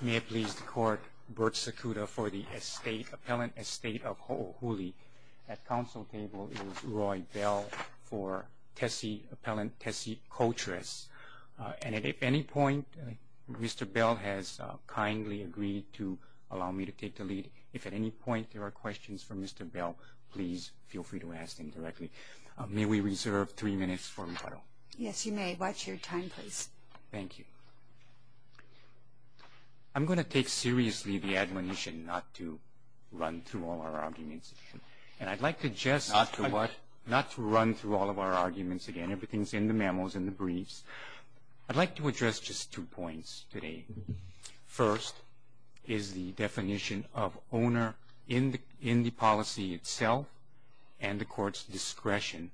May it please the Court, Bert Secuda for the Appellant Estate of Hoohuli. At counsel table is Roy Bell for Tessie Appellant Tessie Coltress. And if at any point Mr. Bell has kindly agreed to allow me to take the lead, if at any point there are questions for Mr. Bell, please feel free to ask him directly. May we reserve three minutes for rebuttal? Yes you may. Watch your time please. Thank you. I'm going to take seriously the admonition not to run through all our arguments. And I'd like to just Not to what? Not to run through all of our arguments again. Everything's in the memos and the briefs. I'd like to address just two points today. First is the definition of owner in the policy itself and the Court's discretion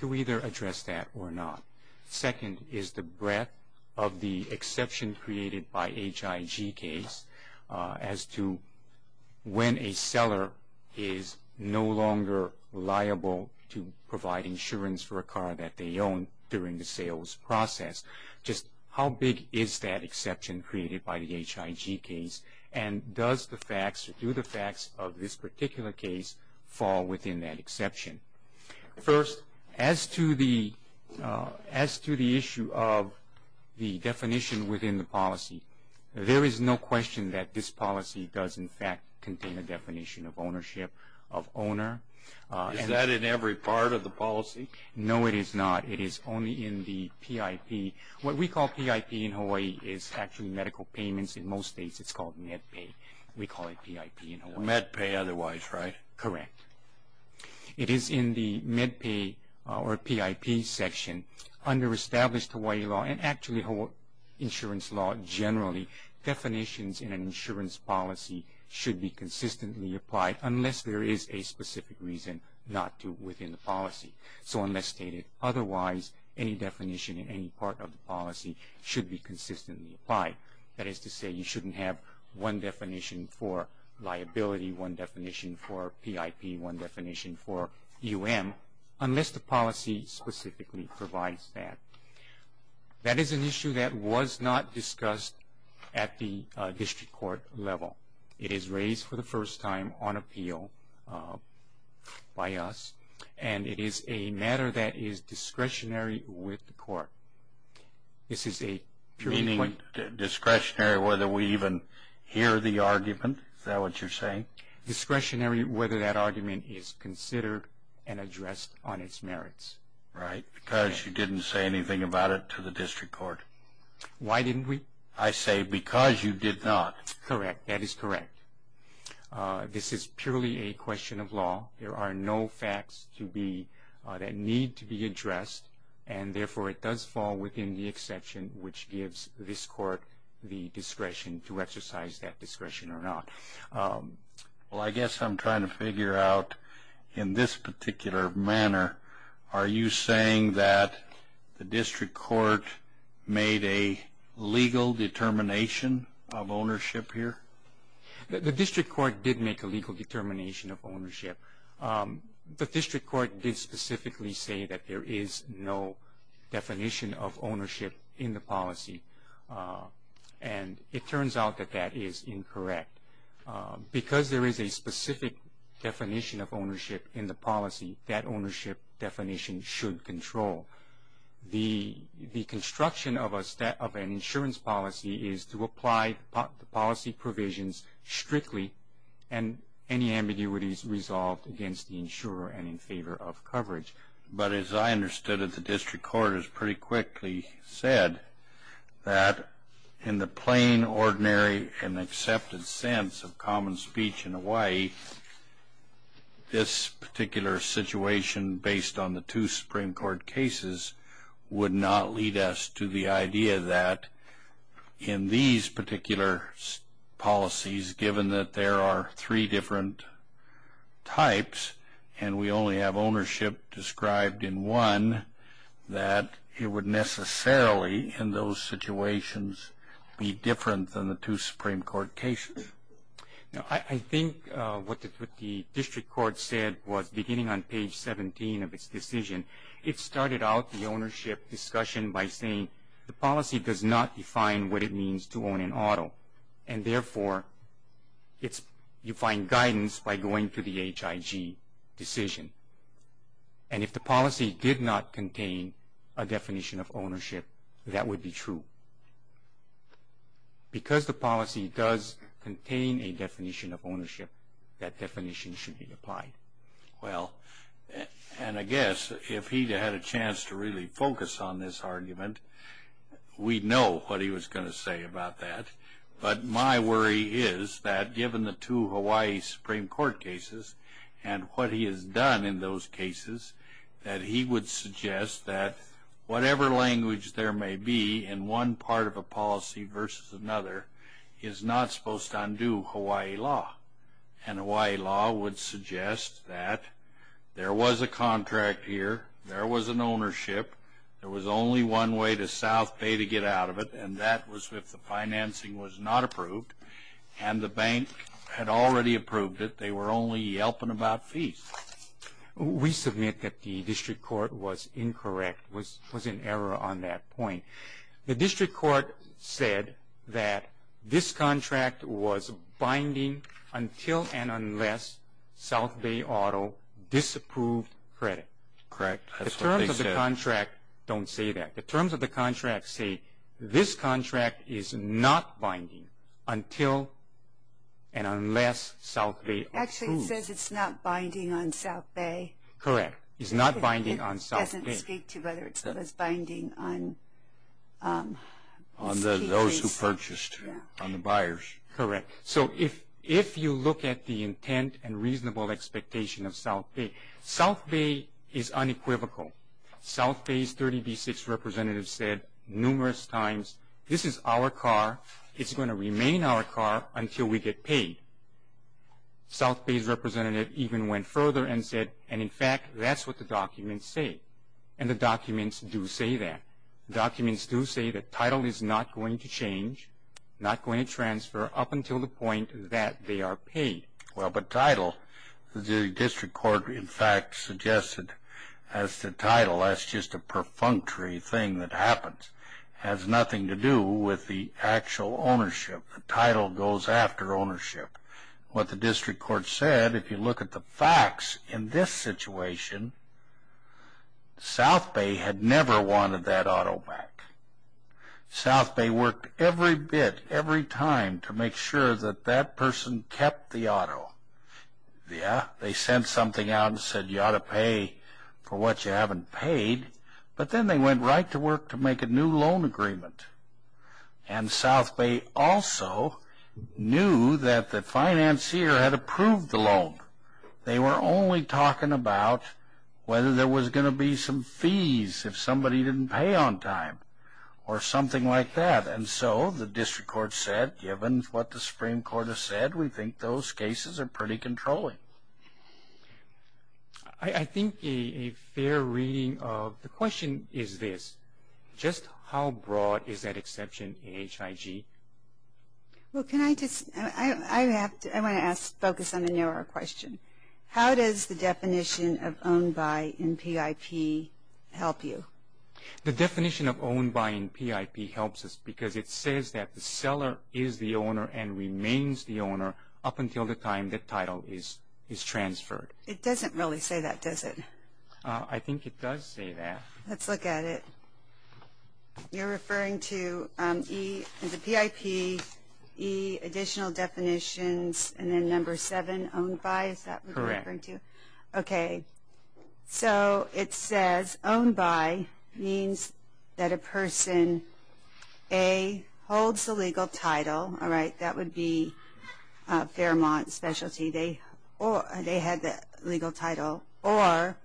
to either address that or not. Second is the breadth of the exception created by HIG case as to when a seller is no longer liable to provide insurance for a car that they own during the sales process. Just how big is that exception created by the HIG case? And does the facts or do the facts of this particular case fall within that exception? First, as to the issue of the definition within the policy, there is no question that this policy does in fact contain a definition of ownership of owner. Is that in every part of the policy? No, it is not. It is only in the PIP. What we call PIP in Hawaii is actually medical payments. In most states it's called MedPay. We call it PIP in Hawaii. MedPay otherwise, right? Correct. It is in the MedPay or PIP section. Under established Hawaii law and actually insurance law generally, definitions in an insurance policy should be consistently applied unless there is a specific reason not to within the policy. So unless stated otherwise, any definition in any part of the policy should be consistently applied. That is to say you shouldn't have one definition for liability, one definition for PIP, one definition for UM unless the policy specifically provides that. That is an issue that was not discussed at the district court level. It is raised for the first time on appeal by us, and it is a matter that is discretionary with the court. This is a purely point. Meaning discretionary whether we even hear the argument? Is that what you're saying? Discretionary whether that argument is considered and addressed on its merits. Right, because you didn't say anything about it to the district court. Why didn't we? I say because you did not. Correct. That is correct. This is purely a question of law. There are no facts that need to be addressed, and therefore it does fall within the exception which gives this court the discretion to exercise that discretion or not. Well, I guess I'm trying to figure out in this particular manner, are you saying that the district court made a legal determination of ownership here? The district court did make a legal determination of ownership. The district court did specifically say that there is no definition of ownership in the policy, and it turns out that that is incorrect. Because there is a specific definition of ownership in the policy, that ownership definition should control. The construction of an insurance policy is to apply the policy provisions strictly and any ambiguities resolved against the insurer and in favor of coverage. But as I understood it, the district court has pretty quickly said that in the plain, ordinary, and accepted sense of common speech in Hawaii, this particular situation based on the two Supreme Court cases would not lead us to the idea that in these particular policies, given that there are three different types and we only have ownership described in one, that it would necessarily in those situations be different than the two Supreme Court cases. I think what the district court said was beginning on page 17 of its decision, it started out the ownership discussion by saying the policy does not define what it means to own an auto, and therefore you find guidance by going to the HIG decision. And if the policy did not contain a definition of ownership, that would be true. Because the policy does contain a definition of ownership, that definition should be applied. Well, and I guess if he had a chance to really focus on this argument, we'd know what he was going to say about that. But my worry is that given the two Hawaii Supreme Court cases and what he has done in those cases, that he would suggest that whatever language there may be in one part of a policy versus another is not supposed to undo Hawaii law. And Hawaii law would suggest that there was a contract here, there was an ownership, there was only one way to South Bay to get out of it, and that was if the financing was not approved, and the bank had already approved it, they were only yelping about fees. We submit that the district court was incorrect, was in error on that point. The district court said that this contract was binding until and unless South Bay Auto disapproved credit. Correct. That's what they said. The terms of the contract don't say that. The terms of the contract say this contract is not binding until and unless South Bay approved. Actually, it says it's not binding on South Bay. Correct. It's not binding on South Bay. It doesn't speak to whether it's binding on those who purchased, on the buyers. Correct. So if you look at the intent and reasonable expectation of South Bay, South Bay is unequivocal. South Bay's 30B6 representative said numerous times, this is our car, it's going to remain our car until we get paid. South Bay's representative even went further and said, and, in fact, that's what the documents say. And the documents do say that. The documents do say that title is not going to change, not going to transfer up until the point that they are paid. Well, but title, the district court, in fact, suggested as to title, that's just a perfunctory thing that happens. It has nothing to do with the actual ownership. The title goes after ownership. What the district court said, if you look at the facts in this situation, South Bay had never wanted that auto back. South Bay worked every bit, every time, to make sure that that person kept the auto. Yeah, they sent something out and said, you ought to pay for what you haven't paid. But then they went right to work to make a new loan agreement. And South Bay also knew that the financier had approved the loan. They were only talking about whether there was going to be some fees if somebody didn't pay on time or something like that. And so the district court said, given what the Supreme Court has said, we think those cases are pretty controlling. I think a fair reading of the question is this. Just how broad is that exception in HIG? Well, can I just, I want to ask, focus on the narrow question. How does the definition of owned by in PIP help you? The definition of owned by in PIP helps us because it says that the seller is the owner and remains the owner up until the time the title is transferred. It doesn't really say that, does it? I think it does say that. Let's look at it. You're referring to the PIP, E, additional definitions, and then number 7, owned by, is that what you're referring to? Correct. Okay. So it says owned by means that a person, A, holds the legal title, all right, that would be Fairmont specialty, they had the legal title, or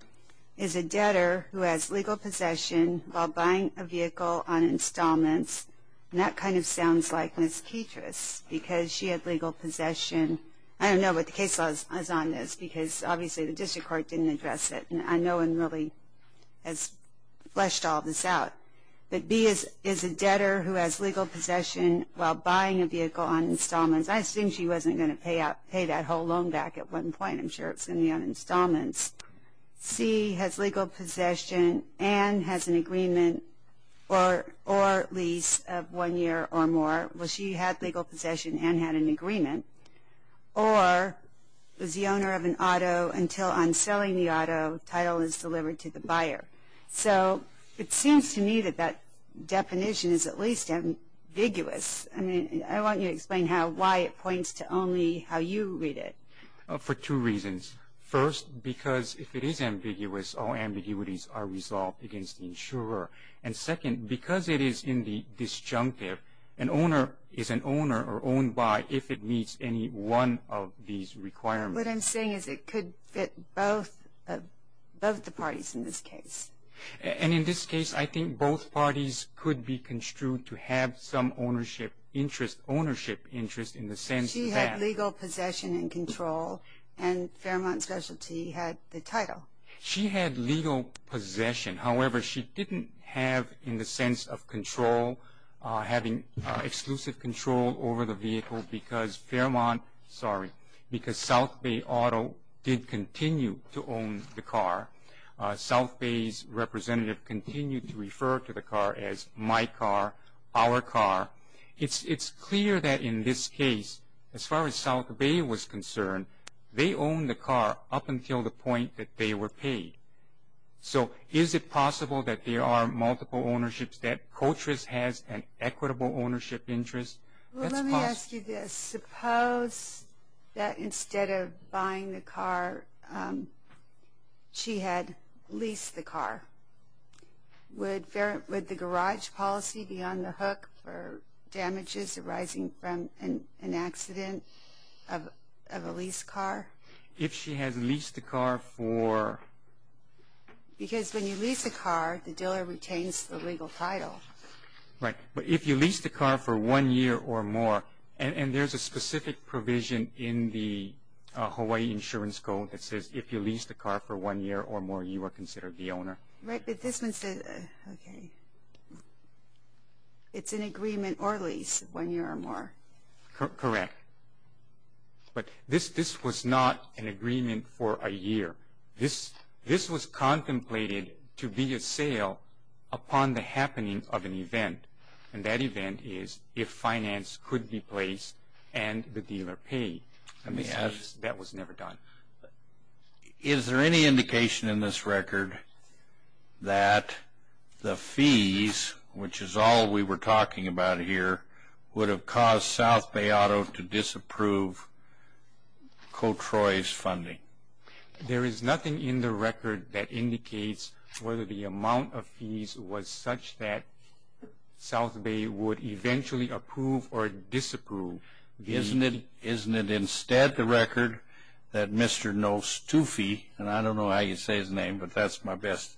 is a debtor who has legal possession while buying a vehicle on installments. And that kind of sounds like Ms. Petras because she had legal possession. I don't know what the case law is on this because obviously the district court didn't address it, and no one really has fleshed all this out. But B is a debtor who has legal possession while buying a vehicle on installments. I assume she wasn't going to pay that whole loan back at one point. I'm sure it's going to be on installments. C has legal possession and has an agreement or lease of one year or more. Well, she had legal possession and had an agreement. Or is the owner of an auto until on selling the auto, title is delivered to the buyer. So it seems to me that that definition is at least ambiguous. I mean, I want you to explain why it points to only how you read it. For two reasons. First, because if it is ambiguous, all ambiguities are resolved against the insurer. And second, because it is in the disjunctive, an owner is an owner or owned by if it meets any one of these requirements. What I'm saying is it could fit both the parties in this case. And in this case, I think both parties could be construed to have some ownership interest in the sense that. She had legal possession and control, and Fairmont Specialty had the title. She had legal possession. However, she didn't have in the sense of control, having exclusive control over the vehicle because Fairmont, sorry, because South Bay Auto did continue to own the car. South Bay's representative continued to refer to the car as my car, our car. It's clear that in this case, as far as South Bay was concerned, they owned the car up until the point that they were paid. So is it possible that there are multiple ownerships, that Coltriss has an equitable ownership interest? That's possible. Well, let me ask you this. Suppose that instead of buying the car, she had leased the car. Would the garage policy be on the hook for damages arising from an accident of a leased car? If she had leased the car for? Because when you lease a car, the dealer retains the legal title. Right. But if you lease the car for one year or more, and there's a specific provision in the Hawaii Insurance Code that says if you lease the car for one year or more, you are considered the owner. Right. But this one says, okay, it's an agreement or lease, one year or more. Correct. But this was not an agreement for a year. This was contemplated to be a sale upon the happening of an event, and that event is if finance could be placed and the dealer paid. That was never done. Is there any indication in this record that the fees, which is all we were talking about here, would have caused South Bay Auto to disapprove Cotroi's funding? There is nothing in the record that indicates whether the amount of fees was such that South Bay would eventually approve or disapprove. Isn't it instead the record that Mr. Nostufi, and I don't know how you say his name, but that's my best,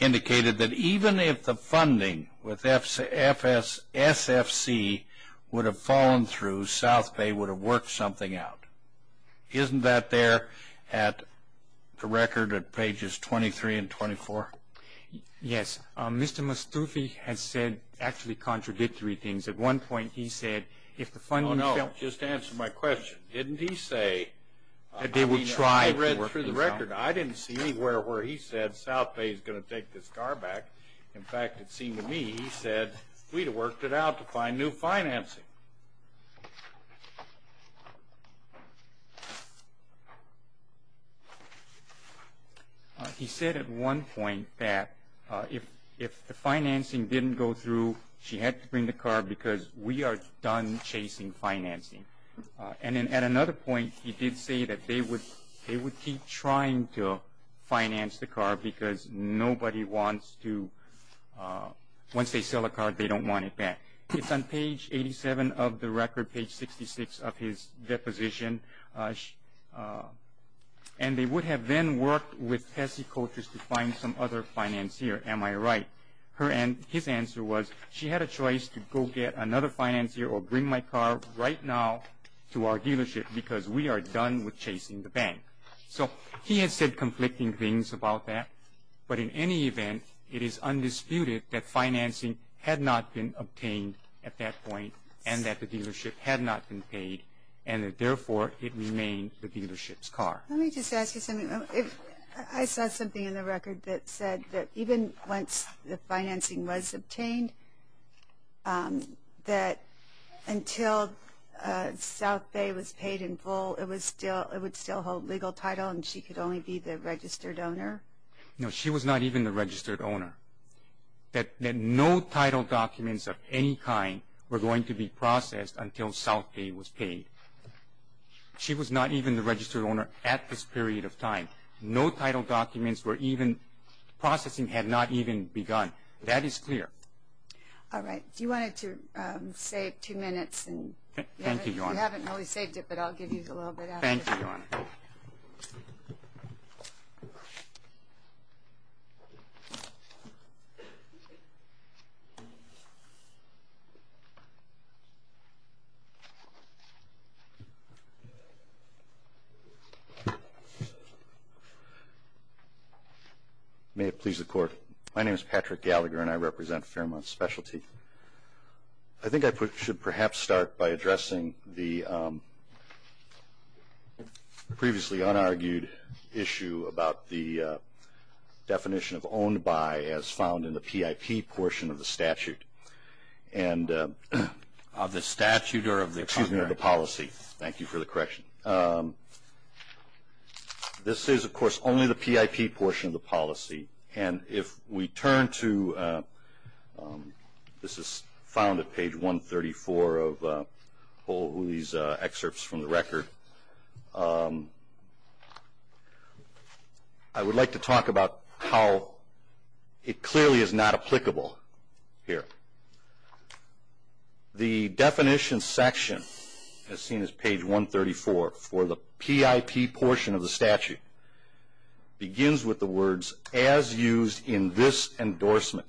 indicated that even if the funding with SFC would have fallen through, South Bay would have worked something out. Isn't that there at the record at pages 23 and 24? Yes. Mr. Nostufi has said actually contradictory things. At one point he said if the funding fell. Oh, no. Just answer my question. Didn't he say, I mean, I read through the record. I didn't see anywhere where he said South Bay is going to take this car back. In fact, it seemed to me he said we'd have worked it out to find new financing. He said at one point that if the financing didn't go through, she had to bring the car because we are done chasing financing. And then at another point he did say that they would keep trying to finance the car because nobody wants to. Once they sell the car, they don't want it back. It's on page 87 of the record, page 66 of his deposition. And they would have then worked with Tessie Colters to find some other financier. Am I right? His answer was she had a choice to go get another financier or bring my car right now to our dealership because we are done with chasing the bank. So he has said conflicting things about that. But in any event, it is undisputed that financing had not been obtained at that point and that the dealership had not been paid and that, therefore, it remained the dealership's car. Let me just ask you something. I saw something in the record that said that even once the financing was obtained, that until South Bay was paid in full, it would still hold legal title and she could only be the registered owner. No, she was not even the registered owner. That no title documents of any kind were going to be processed until South Bay was paid. She was not even the registered owner at this period of time. No title documents were even processing had not even begun. That is clear. All right. Do you want to save two minutes? Thank you, Your Honor. You haven't really saved it, but I'll give you a little bit after. Thank you, Your Honor. May it please the Court. My name is Patrick Gallagher, and I represent Fairmont Specialty. I think I should perhaps start by addressing the previously unargued issue about the definition of owned by as found in the PIP portion of the statute. And of the statute or of the policy. Thank you for the correction. This is, of course, only the PIP portion of the policy. And if we turn to, this is found at page 134 of all these excerpts from the record. I would like to talk about how it clearly is not applicable here. The definition section, as seen as page 134 for the PIP portion of the statute, begins with the words, as used in this endorsement.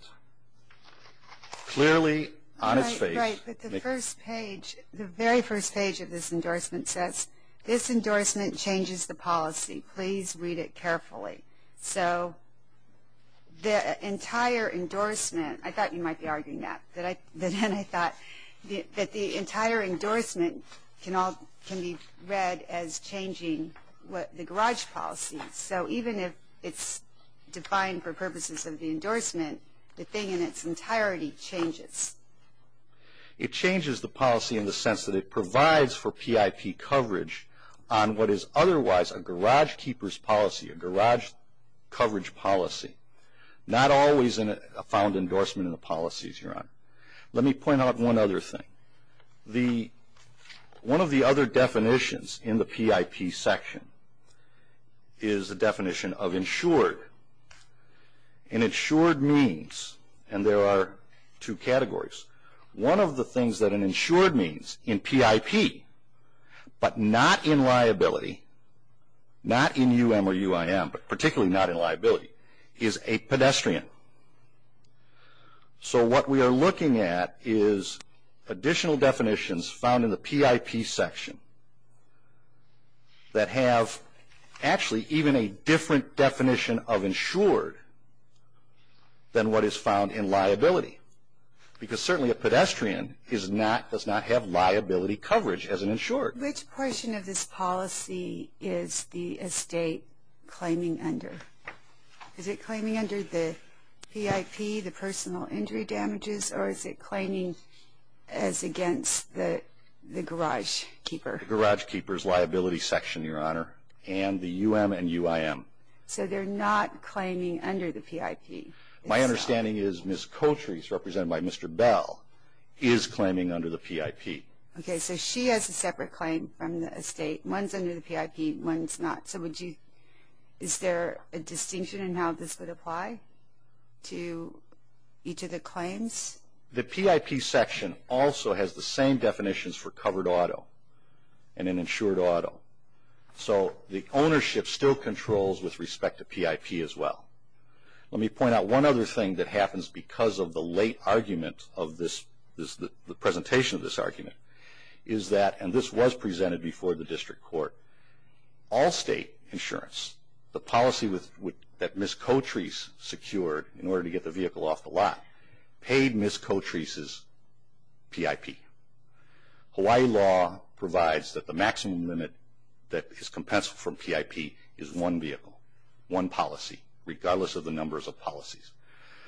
Clearly on its page. Right. But the first page, the very first page of this endorsement says, this endorsement changes the policy. Please read it carefully. So the entire endorsement, I thought you might be arguing that. Then I thought that the entire endorsement can be read as changing the garage policy. So even if it's defined for purposes of the endorsement, the thing in its entirety changes. It changes the policy in the sense that it provides for PIP coverage on what is otherwise a garage keeper's policy, a garage coverage policy. Not always a found endorsement in the policies, Your Honor. Let me point out one other thing. One of the other definitions in the PIP section is the definition of insured. An insured means, and there are two categories, one of the things that an insured means in PIP, but not in liability, not in UM or UIM, but particularly not in liability, is a pedestrian. So what we are looking at is additional definitions found in the PIP section that have actually even a different definition of insured than what is found in liability. Because certainly a pedestrian does not have liability coverage as an insured. Which portion of this policy is the estate claiming under? Is it claiming under the PIP, the personal injury damages, or is it claiming as against the garage keeper? The garage keeper's liability section, Your Honor, and the UM and UIM. So they're not claiming under the PIP. My understanding is Ms. Coltree, who's represented by Mr. Bell, is claiming under the PIP. Okay, so she has a separate claim from the estate. One's under the PIP, one's not. So is there a distinction in how this would apply to each of the claims? The PIP section also has the same definitions for covered auto and an insured auto. So the ownership still controls with respect to PIP as well. Let me point out one other thing that happens because of the late argument of this, the presentation of this argument, is that, and this was presented before the district court, all state insurance, the policy that Ms. Coltree secured in order to get the vehicle off the lot, paid Ms. Coltree's PIP. Hawaii law provides that the maximum limit that is compensable for PIP is one vehicle, one policy, regardless of the numbers of policies.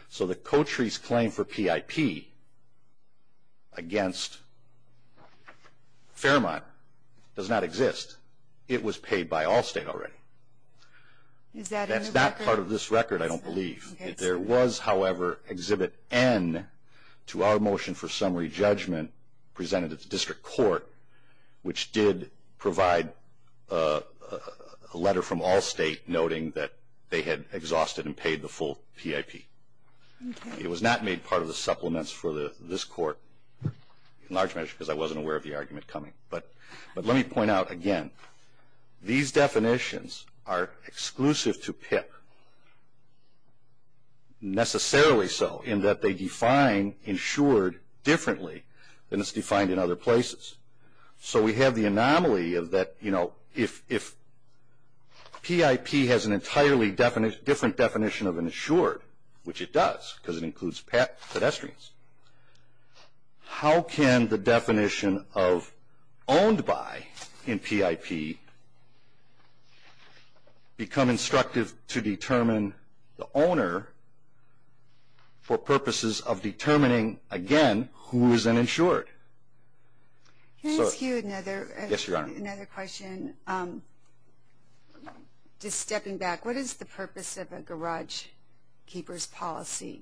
So the Coltree's claim for PIP against Fairmont does not exist. It was paid by Allstate already. That's not part of this record, I don't believe. There was, however, Exhibit N to our motion for summary judgment presented at the district court, which did provide a letter from Allstate noting that they had exhausted and paid the full PIP. It was not made part of the supplements for this court, in large measure, because I wasn't aware of the argument coming. But let me point out again, these definitions are exclusive to PIP, necessarily so, in that they define insured differently than it's defined in other places. So we have the anomaly of that, you know, if PIP has an entirely different definition of an insured, which it does, because it includes pedestrians, how can the definition of owned by in PIP become instructive to determine the owner for purposes of determining, again, who is an insured? Can I ask you another question? Yes, Your Honor. Just stepping back, what is the purpose of a garage keeper's policy?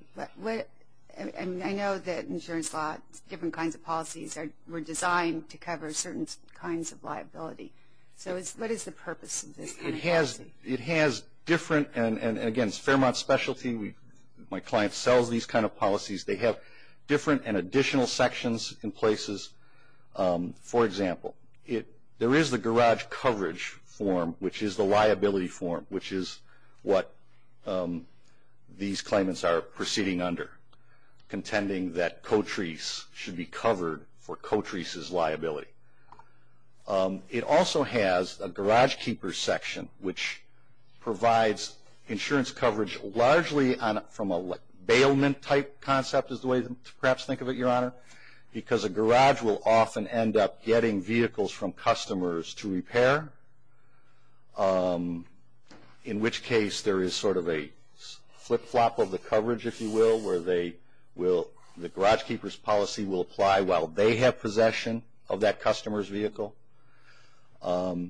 And I know that insurance laws, different kinds of policies, were designed to cover certain kinds of liability. So what is the purpose of this kind of policy? It has different, and again, it's Fairmont's specialty. My client sells these kind of policies. They have different and additional sections in places. For example, there is the garage coverage form, which is the liability form, which is what these claimants are proceeding under, contending that Cotrice should be covered for Cotrice's liability. It also has a garage keeper's section, which provides insurance coverage largely from a bailment-type concept, is the way to perhaps think of it, Your Honor, because a garage will often end up getting vehicles from customers to repair, in which case there is sort of a flip-flop of the coverage, if you will, where the garage keeper's policy will apply while they have possession of that customer's vehicle. I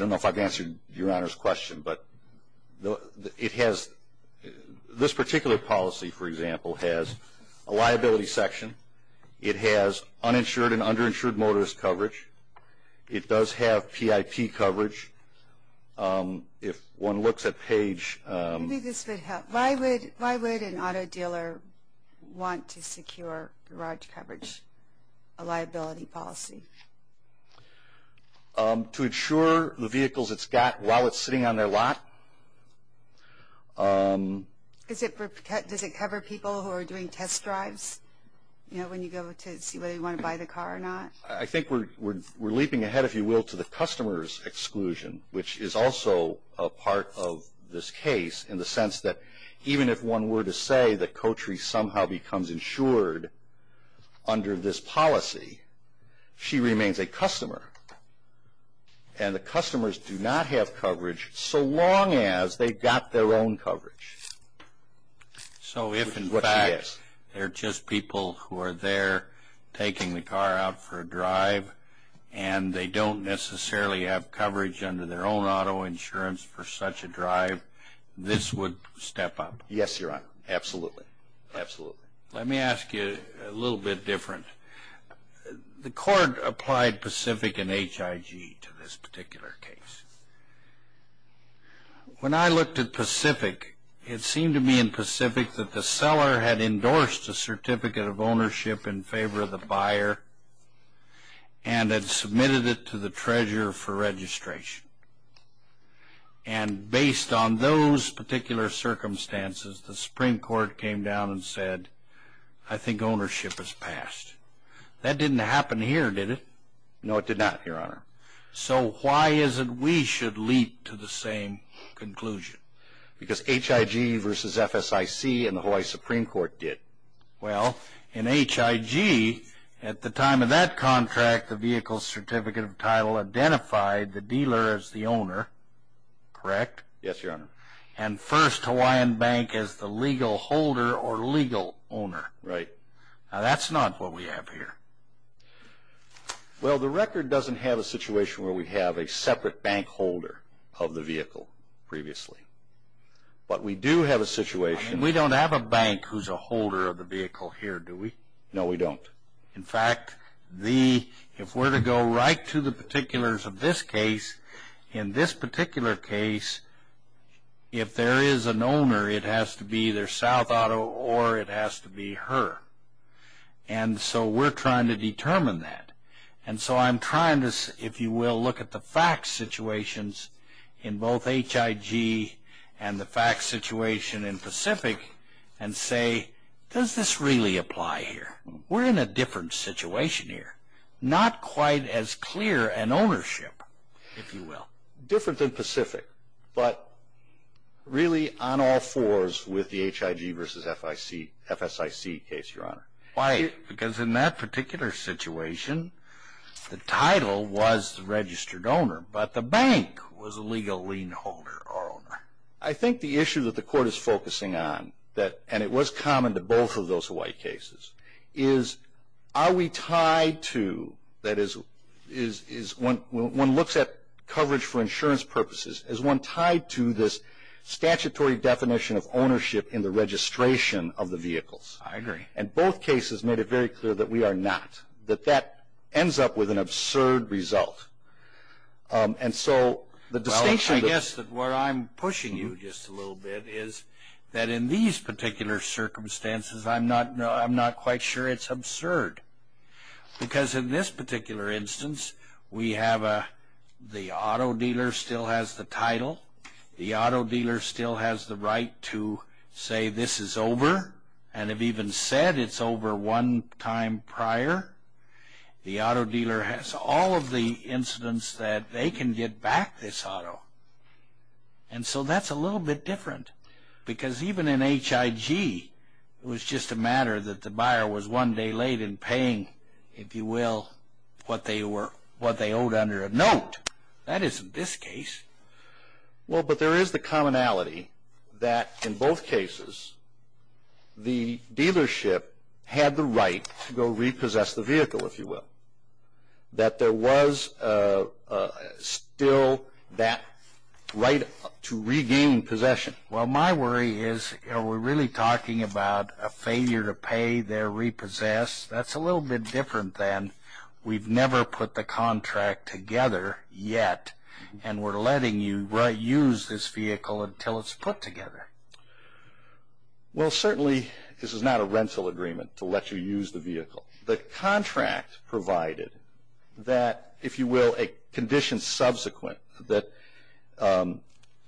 don't know if I've answered Your Honor's question, but this particular policy, for example, has a liability section. It has uninsured and underinsured motorist coverage. It does have PIP coverage. If one looks at page... Maybe this would help. Why would an auto dealer want to secure garage coverage, a liability policy? To insure the vehicles it's got while it's sitting on their lot. Does it cover people who are doing test drives, you know, when you go to see whether you want to buy the car or not? I think we're leaping ahead, if you will, to the customer's exclusion, which is also a part of this case in the sense that even if one were to say that Kotri somehow becomes insured under this policy, she remains a customer. And the customers do not have coverage so long as they've got their own coverage. So if, in fact, they're just people who are there taking the car out for a drive and they don't necessarily have coverage under their own auto insurance for such a drive, this would step up? Yes, Your Honor. Absolutely. Absolutely. Let me ask you a little bit different. The court applied Pacific and HIG to this particular case. When I looked at Pacific, it seemed to me in Pacific that the seller had endorsed a certificate of ownership in favor of the buyer and had submitted it to the treasurer for registration. And based on those particular circumstances, the Supreme Court came down and said, I think ownership is passed. That didn't happen here, did it? No, it did not, Your Honor. So why is it we should leap to the same conclusion? Because HIG versus FSIC and the Hawaii Supreme Court did. Well, in HIG, at the time of that contract, the vehicle's certificate of title identified the dealer as the owner, correct? Yes, Your Honor. And first Hawaiian Bank as the legal holder or legal owner. Right. Now, that's not what we have here. Well, the record doesn't have a situation where we have a separate bank holder of the vehicle previously. But we do have a situation. We don't have a bank who's a holder of the vehicle here, do we? No, we don't. In fact, if we're to go right to the particulars of this case, in this particular case, if there is an owner, it has to be either South Auto or it has to be her. And so we're trying to determine that. And so I'm trying to, if you will, look at the facts situations in both HIG and the facts situation in Pacific and say, does this really apply here? We're in a different situation here. Not quite as clear an ownership, if you will. Different than Pacific. But really on all fours with the HIG versus FSIC case, Your Honor. Why? Because in that particular situation, the title was the registered owner, but the bank was the legal lien holder or owner. I think the issue that the Court is focusing on, and it was common to both of those Hawaii cases, is are we tied to, that is, one looks at coverage for insurance purposes, is one tied to this statutory definition of ownership in the registration of the vehicles? I agree. And both cases made it very clear that we are not, that that ends up with an absurd result. And so the distinction that- Well, I guess that where I'm pushing you just a little bit is that in these particular circumstances, I'm not quite sure it's absurd. Because in this particular instance, we have the auto dealer still has the title, the auto dealer still has the right to say this is over, and have even said it's over one time prior. The auto dealer has all of the incidents that they can get back this auto. And so that's a little bit different. Because even in HIG, it was just a matter that the buyer was one day late in paying, if you will, what they owed under a note. That isn't this case. Well, but there is the commonality that in both cases, the dealership had the right to go repossess the vehicle, if you will. That there was still that right to regain possession. Well, my worry is we're really talking about a failure to pay their repossess. That's a little bit different than we've never put the contract together yet, and we're letting you use this vehicle until it's put together. Well, certainly this is not a rental agreement to let you use the vehicle. The contract provided that, if you will, a condition subsequent that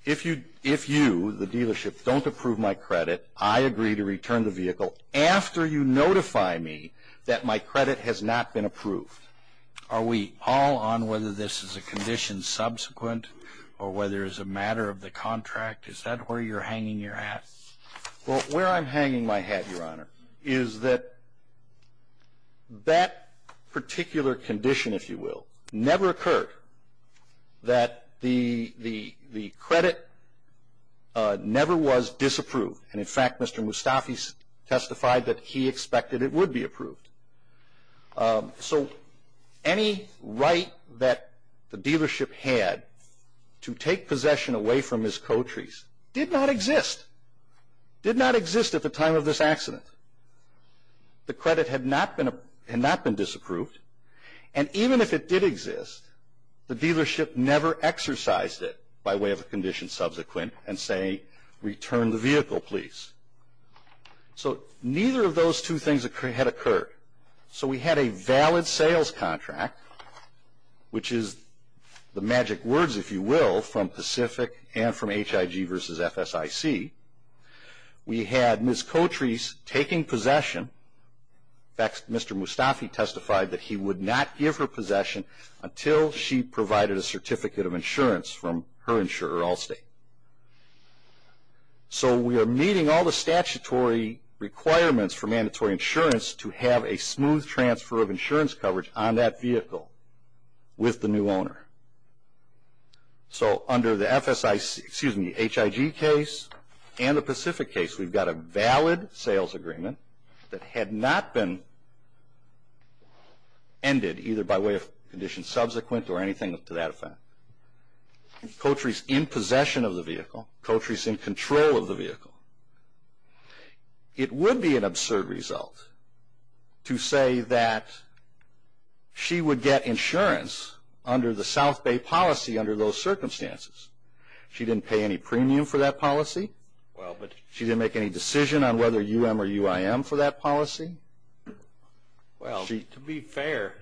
if you, the dealership, don't approve my credit, I agree to return the vehicle after you notify me that my credit has not been approved. Are we all on whether this is a condition subsequent or whether it's a matter of the contract? Is that where you're hanging your hat? Well, where I'm hanging my hat, Your Honor, is that that particular condition, if you will, never occurred that the credit never was disapproved. And in fact, Mr. Mustafi testified that he expected it would be approved. So any right that the dealership had to take possession away from his co-trees did not exist. Did not exist at the time of this accident. The credit had not been disapproved. And even if it did exist, the dealership never exercised it by way of a condition subsequent and say, return the vehicle, please. So neither of those two things had occurred. So we had a valid sales contract, which is the magic words, if you will, from Pacific and from HIG versus FSIC. We had Ms. Co-Trees taking possession. In fact, Mr. Mustafi testified that he would not give her possession until she provided a certificate of insurance from her insurer, Allstate. So we are meeting all the statutory requirements for mandatory insurance to have a smooth transfer of insurance coverage on that vehicle with the new owner. So under the HIG case and the Pacific case, we've got a valid sales agreement that had not been ended either by way of condition subsequent or anything to that effect. Co-Trees in possession of the vehicle. It would be an absurd result to say that she would get insurance under the South Bay policy under those circumstances. She didn't pay any premium for that policy. She didn't make any decision on whether UM or UIM for that policy. Well, to be fair,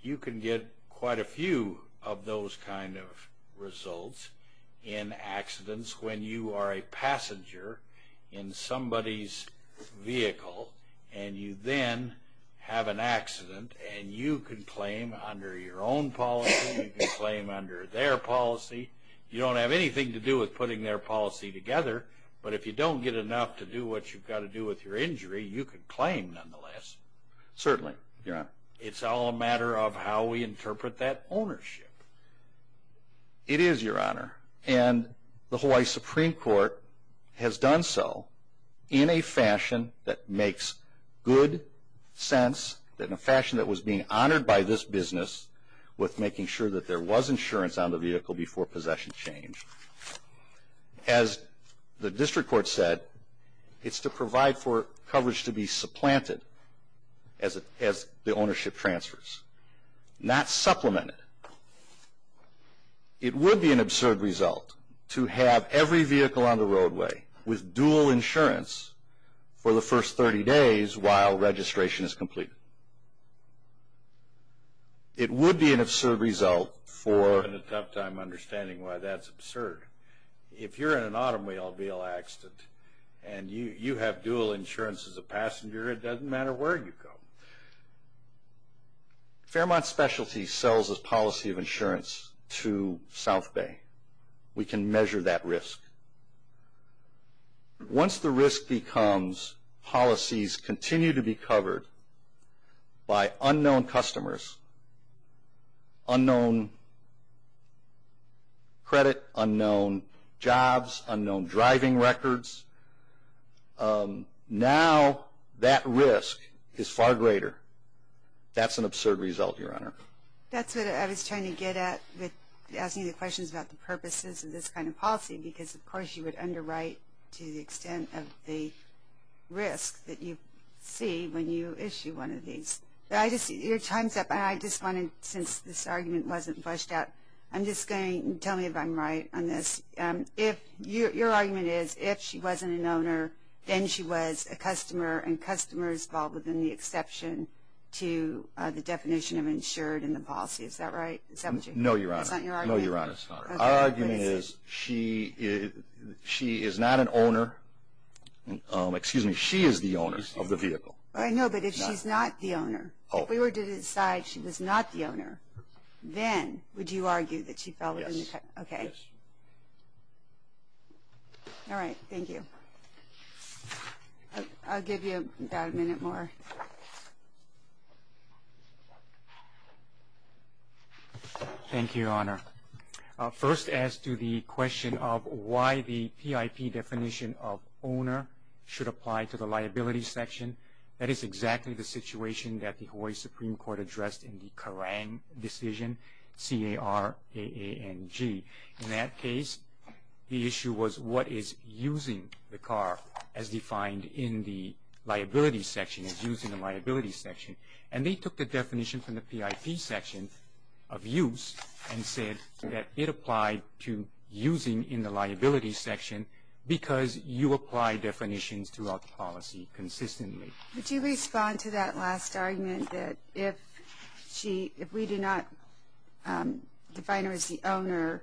you can get quite a few of those kind of results in accidents when you are a passenger in somebody's vehicle and you then have an accident and you can claim under your own policy, you can claim under their policy. You don't have anything to do with putting their policy together, but if you don't get enough to do what you've got to do with your injury, you can claim nonetheless. Certainly, Your Honor. It's all a matter of how we interpret that ownership. It is, Your Honor. And the Hawaii Supreme Court has done so in a fashion that makes good sense, in a fashion that was being honored by this business with making sure that there was insurance on the vehicle before possession change. As the district court said, it's to provide for coverage to be supplanted as the ownership transfers, not supplemented. It would be an absurd result to have every vehicle on the roadway with dual insurance for the first 30 days while registration is completed. It would be an absurd result for... If you're in an automobile accident and you have dual insurance as a passenger, it doesn't matter where you come. Fairmont Specialty sells its policy of insurance to South Bay. We can measure that risk. Once the risk becomes policies continue to be covered by unknown customers, unknown credit, unknown jobs, unknown driving records, now that risk is far greater. That's an absurd result, Your Honor. That's what I was trying to get at with asking you questions about the purposes of this kind of policy, because, of course, you would underwrite to the extent of the risk that you see when you issue one of these. Your time's up, and I just wanted, since this argument wasn't fleshed out, I'm just going to tell me if I'm right on this. Your argument is if she wasn't an owner, then she was a customer, and customers fall within the exception to the definition of insured in the policy. Is that right? No, Your Honor. It's not your argument? No, Your Honor, it's not. Our argument is she is not an owner. Excuse me, she is the owner of the vehicle. No, but if she's not the owner, if we were to decide she was not the owner, then would you argue that she fell within the? Yes. Okay. All right, thank you. I'll give you about a minute more. Thank you, Your Honor. First, as to the question of why the PIP definition of owner should apply to the liability section, that is exactly the situation that the Hawaii Supreme Court addressed in the Kerang decision, C-A-R-A-A-N-G. In that case, the issue was what is using the car as defined in the liability section, as used in the liability section. And they took the definition from the PIP section of use and said that it applied to using in the liability section because you apply definitions throughout the policy consistently. Would you respond to that last argument that if we do not define her as the owner,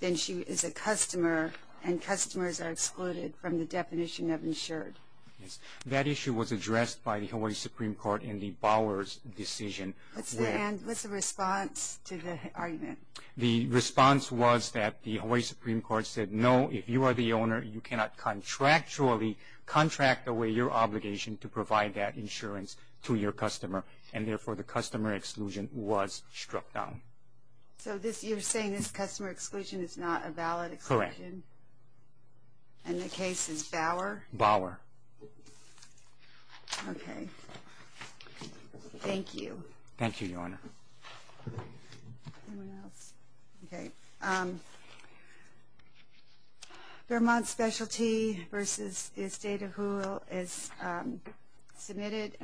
then she is a customer and customers are excluded from the definition of insured? Yes. That issue was addressed by the Hawaii Supreme Court in the Bowers decision. What's the response to the argument? The response was that the Hawaii Supreme Court said, no, if you are the owner, you cannot contractually contract away your obligation to provide that insurance to your customer, and therefore the customer exclusion was struck down. So you're saying this customer exclusion is not a valid exclusion? Correct. And the case is Bower? Bower. Okay. Thank you. Thank you, Your Honor. Anyone else? Okay. Vermont Specialty v. Estate of Whoville is submitted.